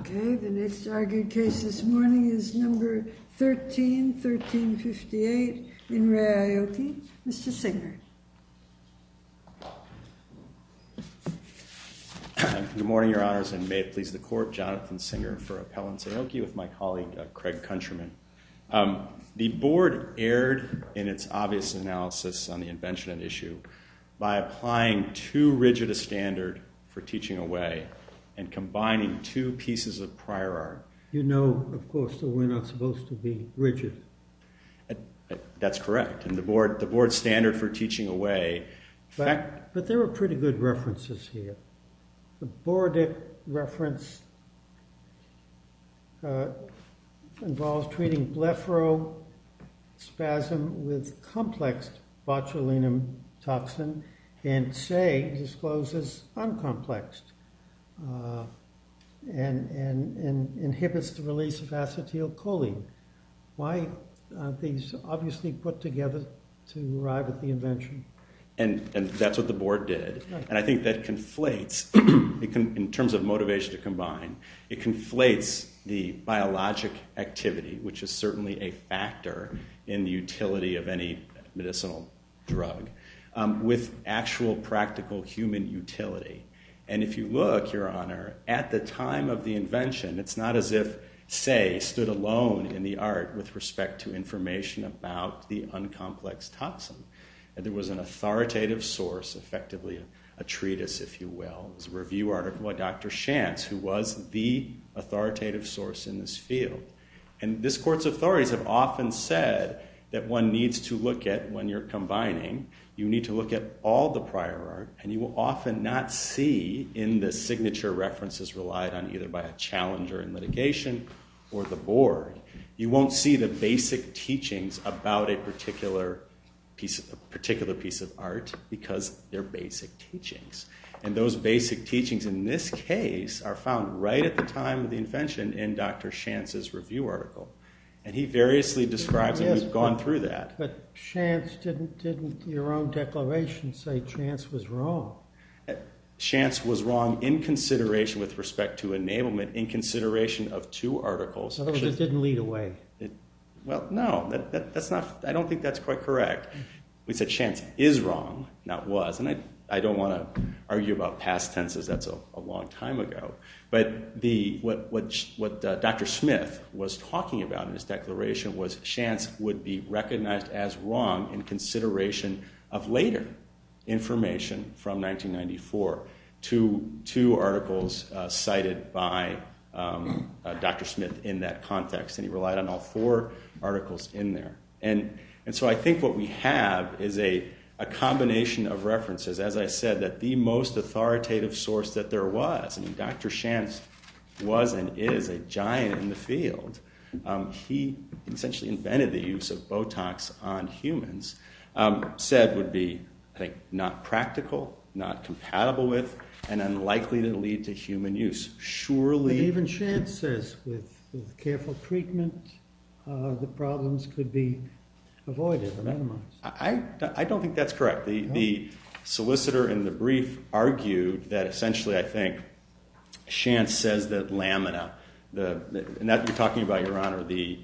Okay, the next argued case this morning is number 13, 1358 in Re Aoki. Mr. Signard. Good morning, your honors, and may it please the court, Jonathan Signard for Appellants Aoki with my colleague Craig Countryman. The board erred in its obvious analysis on the invention and issue by applying too rigid a standard for teaching away and combining two pieces of prior art. You know, of course, that we're not supposed to be rigid. That's correct, and the board standard for teaching away. But there were pretty good references here. The board reference involves treating blepharospasm with complex botulinum toxin and say discloses uncomplexed and inhibits the release of acetylcholine. Why are these obviously put together to arrive at the invention? And that's what the board did, and I think that conflates, in terms of motivation to combine, it conflates the biologic activity, which is certainly a factor in the utility of any medicinal drug, with actual practical human utility. And if you look, your honor, at the time of the invention, it's not as if Say stood alone in the art with respect to information about the uncomplexed toxin. And there was an authoritative source, effectively a treatise, if you will. It was a review article by Dr. Shantz, who was the authoritative source in this field. And this court's authorities have often said that one needs to look at, when you're combining, you need to look at all the prior art, and you will often not see in the signature references relied on either by a challenger in litigation or the board. You won't see the basic teachings about a particular piece of art, because they're basic teachings. And those basic teachings, in this case, are found right at the time of the invention in Dr. Shantz's review article. And he variously describes it. We've gone through that. But Shantz, didn't your own declaration say Shantz was wrong? Shantz was wrong in consideration, with respect to enablement, in consideration of two articles. So it didn't lead away? Well, no, that's not, I don't think that's quite correct. We said Shantz is wrong, not was. And I don't want to argue about past tenses. That's a long time ago. But the, what Dr. Smith was talking about in this declaration was Shantz would be recognized as wrong in consideration of later information from 1994 to two articles cited by Dr. Smith in that context. And he relied on all four articles in there. And so I think what we have is a combination of references, as I said, that the most authoritative source that there was, and Dr. Shantz was and is a giant in the field. He essentially invented the use of not compatible with and unlikely to lead to human use. Surely, even Shantz says with careful treatment, the problems could be avoided. I don't think that's correct. The solicitor in the brief argued that essentially, I think, Shantz says that lamina, and that you're talking about, Your Honor, the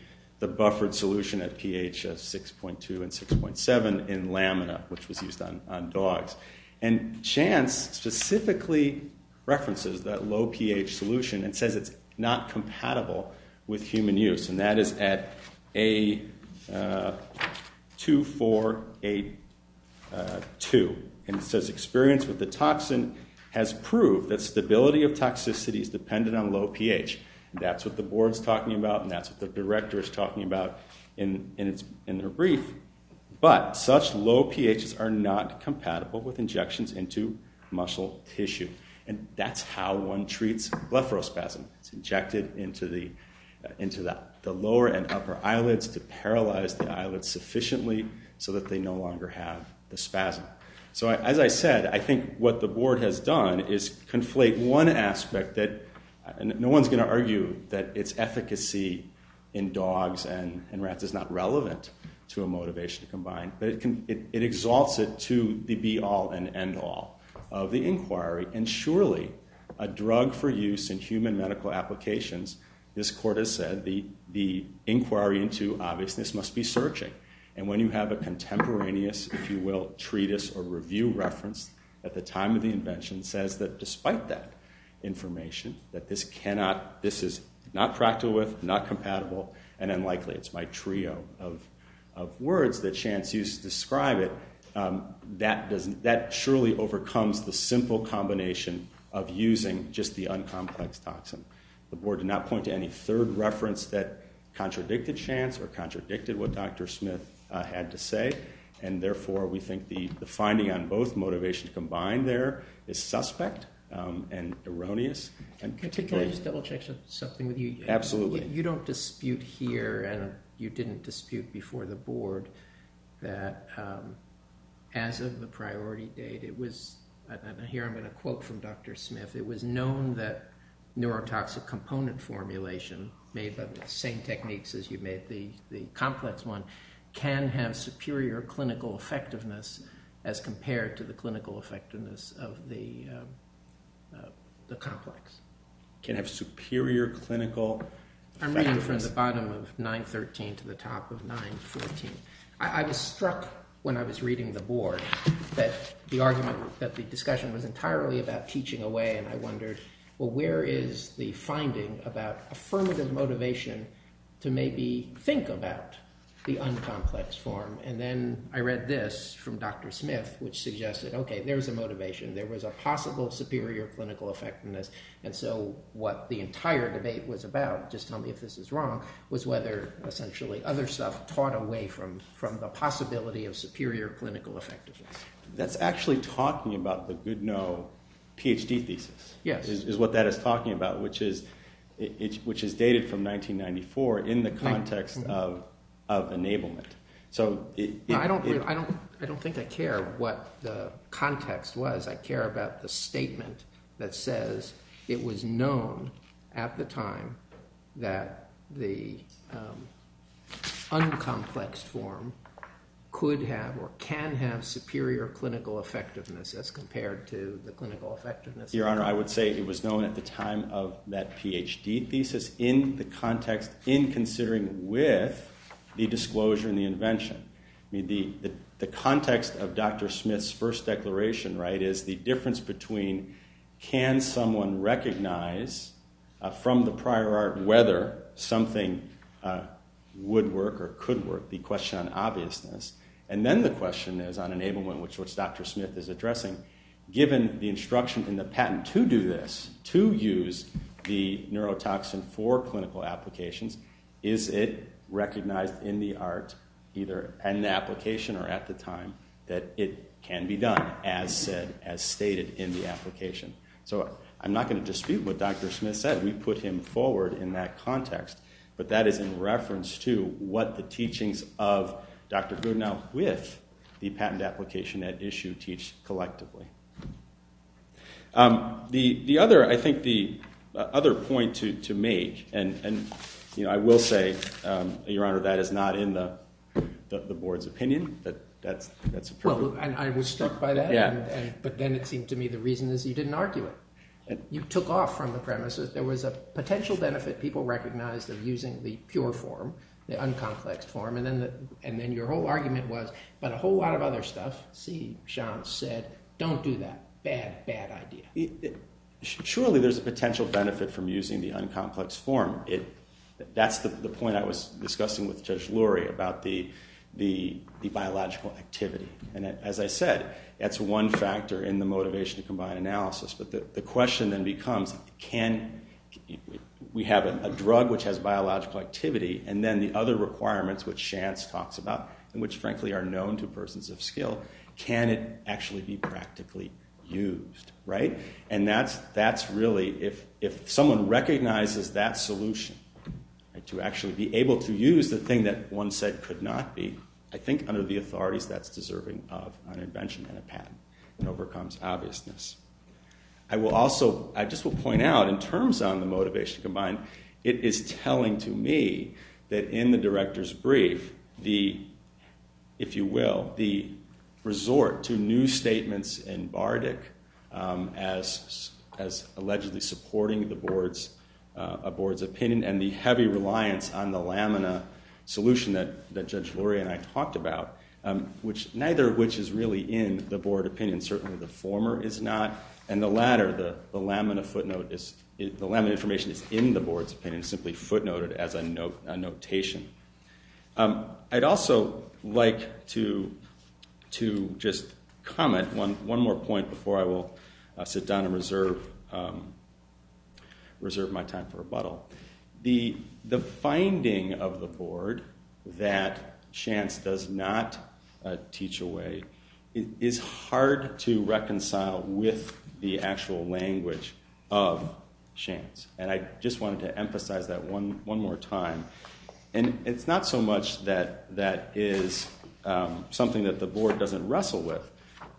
buffered solution at pH 6.2 and 6.7 in lamina, which was used on dogs. And Shantz specifically references that low pH solution and says it's not compatible with human use. And that is at A2482. And it says experience with the toxin has proved that stability of toxicity is dependent on low pH. That's what the board's talking about and that's what the director is talking about in their brief. But such low pHs are not compatible with injections into muscle tissue. And that's how one treats blepharospasm. It's injected into the lower and upper eyelids to paralyze the eyelids sufficiently so that they no longer have the spasm. So as I said, I think what the board has done is conflate one aspect that, and no one's going to argue that its efficacy in dogs and rats is not relevant to a motivation to combine, but it exalts it to the be-all and end-all of the inquiry. And surely, a drug for use in human medical applications, this court has said, the inquiry into obviousness must be searching. And when you have a contemporaneous, if you will, treatise or review reference at the time of the invention says that despite that this is not practical with, not compatible, and unlikely, it's my trio of words that Shantz used to describe it, that surely overcomes the simple combination of using just the un-complex toxin. The board did not point to any third reference that contradicted Shantz or contradicted what Dr. Smith had to say, and therefore we think the finding on both motivations combined there is something with you. Absolutely. You don't dispute here, and you didn't dispute before the board, that as of the priority date it was, and here I'm going to quote from Dr. Smith, it was known that neurotoxic component formulation, made by the same techniques as you made the complex one, can have superior clinical effectiveness as compared to the clinical effectiveness of the complex. Can have superior clinical... I'm reading from the bottom of 9.13 to the top of 9.14. I was struck when I was reading the board that the argument, that the discussion was entirely about teaching away, and I wondered, well where is the finding about affirmative motivation to maybe think about the un-complex form? And then I read this from Dr. Smith, which suggested, okay, there's a motivation, there was a possible superior clinical effectiveness, and so what the entire debate was about, just tell me if this is wrong, was whether essentially other stuff taught away from the possibility of superior clinical effectiveness. That's actually talking about the good-no PhD thesis. Yes. Is what that is talking about, which is dated from 1994 in the context of enablement. I don't think I care what the statement that says it was known at the time that the un-complex form could have or can have superior clinical effectiveness as compared to the clinical effectiveness. Your Honor, I would say it was known at the time of that PhD thesis in the context in considering with the disclosure in the invention. I mean, the context of Dr. Smith's first declaration, right, is the difference between, can someone recognize from the prior art whether something would work or could work, the question on obviousness, and then the question is on enablement, which Dr. Smith is addressing, given the instruction in the patent to do this, to use the neurotoxin for clinical applications, is it recognized in the art, either an application or at the time, that it can be done as said, as stated in the application. So I'm not going to dispute what Dr. Smith said. We put him forward in that context, but that is in reference to what the teachings of Dr. Goodenow with the patent application at issue teach collectively. The other, I think, the other point to make, and you know, I will say, Your Honor, that is not in the board's opinion. That's Well, I was struck by that, but then it seemed to me the reason is you didn't argue it. You took off from the premises. There was a potential benefit people recognized of using the pure form, the un-complexed form, and then your whole argument was, but a whole lot of other stuff, see, Sean, said, don't do that. Bad, bad idea. Surely there's a potential benefit from using the un-complexed form. That's the point I was discussing with Judge Lurie about the biological activity, and as I said, that's one factor in the motivation to combine analysis, but the question then becomes, can we have a drug which has biological activity, and then the other requirements which Shantz talks about, and which frankly are known to persons of skill, can it actually be practically used, right? And that's really, if someone recognizes that solution, to actually be able to use the thing that one said could not be, I think, under the authorities that's deserving of an invention and a patent. It overcomes obviousness. I will also, I just will point out, in terms on the motivation to combine, it is telling to me that in the director's brief, the, if you will, the resort to new statements in Bardic as allegedly supporting the board's opinion and the heavy reliance on the lamina solution that Judge Lurie and I talked about, which neither of which is really in the board opinion, certainly the former is not, and the latter, the lamina footnote, the lamina information is in the board's opinion, simply footnoted as a notation. I'd also like to just comment one more point before I will sit down and reserve my time for the board that Shantz does not teach away. It is hard to reconcile with the actual language of Shantz, and I just wanted to emphasize that one more time, and it's not so much that that is something that the board doesn't wrestle with,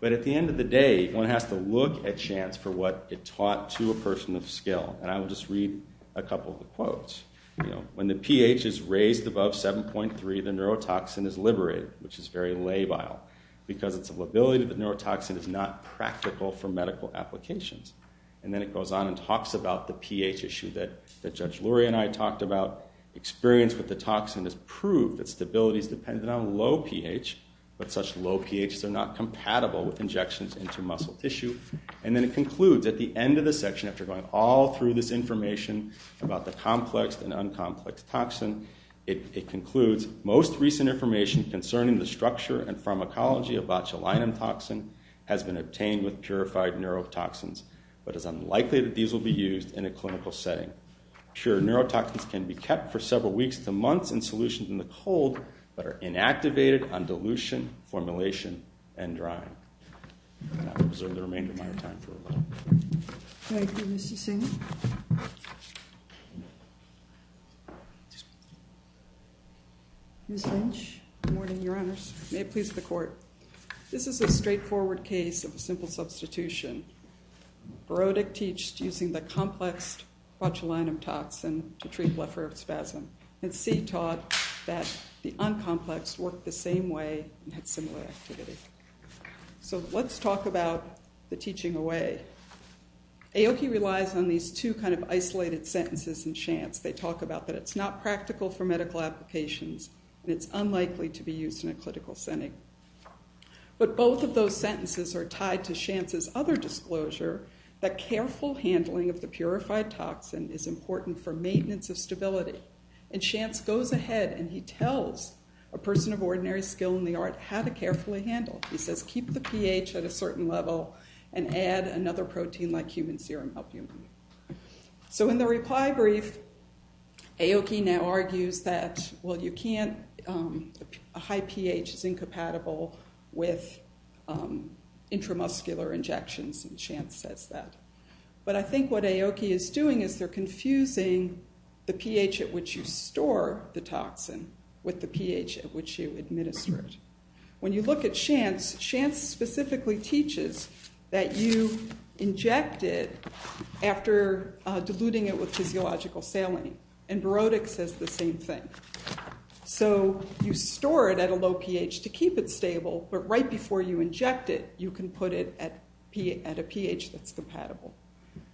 but at the end of the day, one has to look at Shantz for what it taught to a person of skill, and I will just read a couple of the quotes. You know, when the pH is raised above 7.3, the neurotoxin is liberated, which is very labile, because it's a lability, the neurotoxin is not practical for medical applications, and then it goes on and talks about the pH issue that Judge Lurie and I talked about. Experience with the toxin has proved that stability is dependent on low pH, but such low pHs are not compatible with injections into muscle tissue, and then it concludes at the end of the section, after going all through this information about the complex and un-complex toxin, it concludes, most recent information concerning the structure and pharmacology of botulinum toxin has been obtained with purified neurotoxins, but it is unlikely that these will be used in a clinical setting. Pure neurotoxins can be kept for several weeks to months in solutions in the cold, but are inactivated on dilution, formulation, and drying. And I'll reserve the remainder of my time for a moment. Thank you, Mr. Singh. Ms. Lynch? Good morning, Your Honors. May it please the Court. This is a straightforward case of a simple substitution. Berodek teached using the complex botulinum toxin to treat leprosy spasm, and Seed taught that the un-complex worked the same way and had the same effect. Aoki relies on these two kind of isolated sentences in Shantz. They talk about that it's not practical for medical applications, and it's unlikely to be used in a clinical setting. But both of those sentences are tied to Shantz's other disclosure, that careful handling of the purified toxin is important for maintenance of stability. And Shantz goes ahead and he tells a person of ordinary skill in the art how to carefully handle. He says, keep the pH at a certain level and add another protein like human serum help you. So in the reply brief, Aoki now argues that, well, you can't, a high pH is incompatible with intramuscular injections, and Shantz says that. But I think what Aoki is doing is they're confusing the pH at which you store the toxin with the pH at which you inject it. So Shantz basically teaches that you inject it after diluting it with physiological saline, and Barodic says the same thing. So you store it at a low pH to keep it stable, but right before you inject it, you can put it at a pH that's compatible.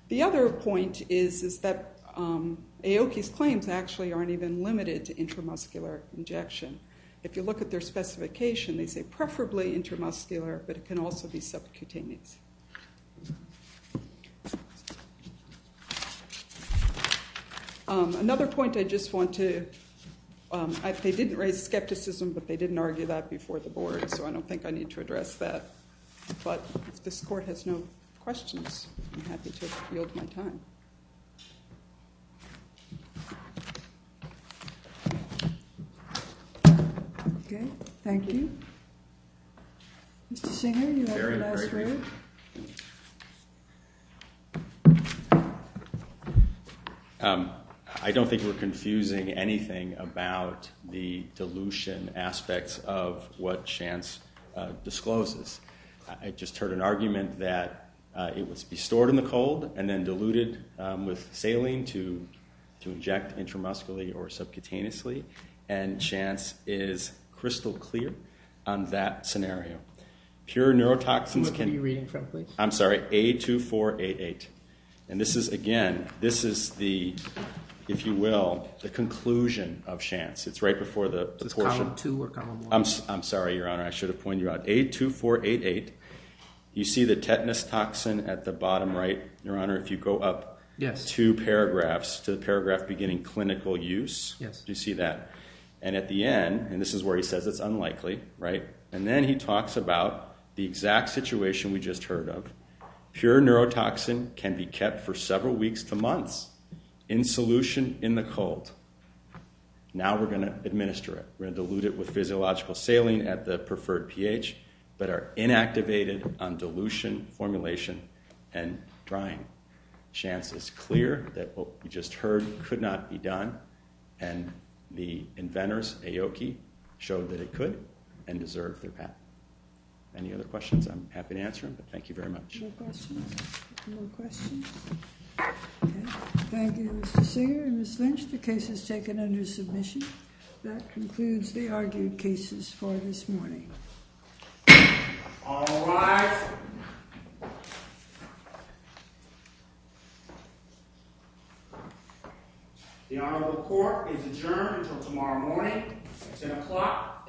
The other point is that Aoki's claims actually aren't even limited to intramuscular injection. If you look at their specification, they say preferably intramuscular, but it can also be subcutaneous. Another point I just want to, they didn't raise skepticism, but they didn't argue that before the board, so I don't think I need to address that. But if this court has no questions, I'm happy to yield my time. Okay, thank you. Mr. Singer, you have the last word. I don't think we're confusing anything about the dilution aspects of what Shantz discloses. I just heard an argument that it must be stored in the cold and then diluted with saline to inject intramuscularly or subcutaneously, and Shantz is crystal clear on that scenario. Pure neurotoxins can... What book are you reading from, please? I'm sorry, A2488. And this is, again, this is the, if you will, the conclusion of Shantz. It's right before the portion... Is this column two or column one? I'm sorry, Your Honor, I should have pointed you out. A2488, you see the tetanus toxin at the bottom right. Your Honor, if you go up two paragraphs to the paragraph beginning clinical use, do you see that? And at the end, and this is where he says it's unlikely, right? And then he talks about the exact situation we just heard of. Pure neurotoxin can be kept for several weeks to months in solution in the cold. Now we're going to administer it. We're going to dilute it with physiological saline at the preferred pH, but are inactivated on dilution, formulation, and drying. Shantz is clear that what we just heard could not be done, and the inventors, Aoki, showed that it could and deserved their patent. Any other questions? I'm happy to answer them, but thank you very much. No questions? No questions? Okay. Thank you, Mr. Singer and Ms. Lynch. The case is taken under submission. That concludes the argued cases for this morning. All rise. The Honorable Court is adjourned until tomorrow morning, 6 o'clock a.m.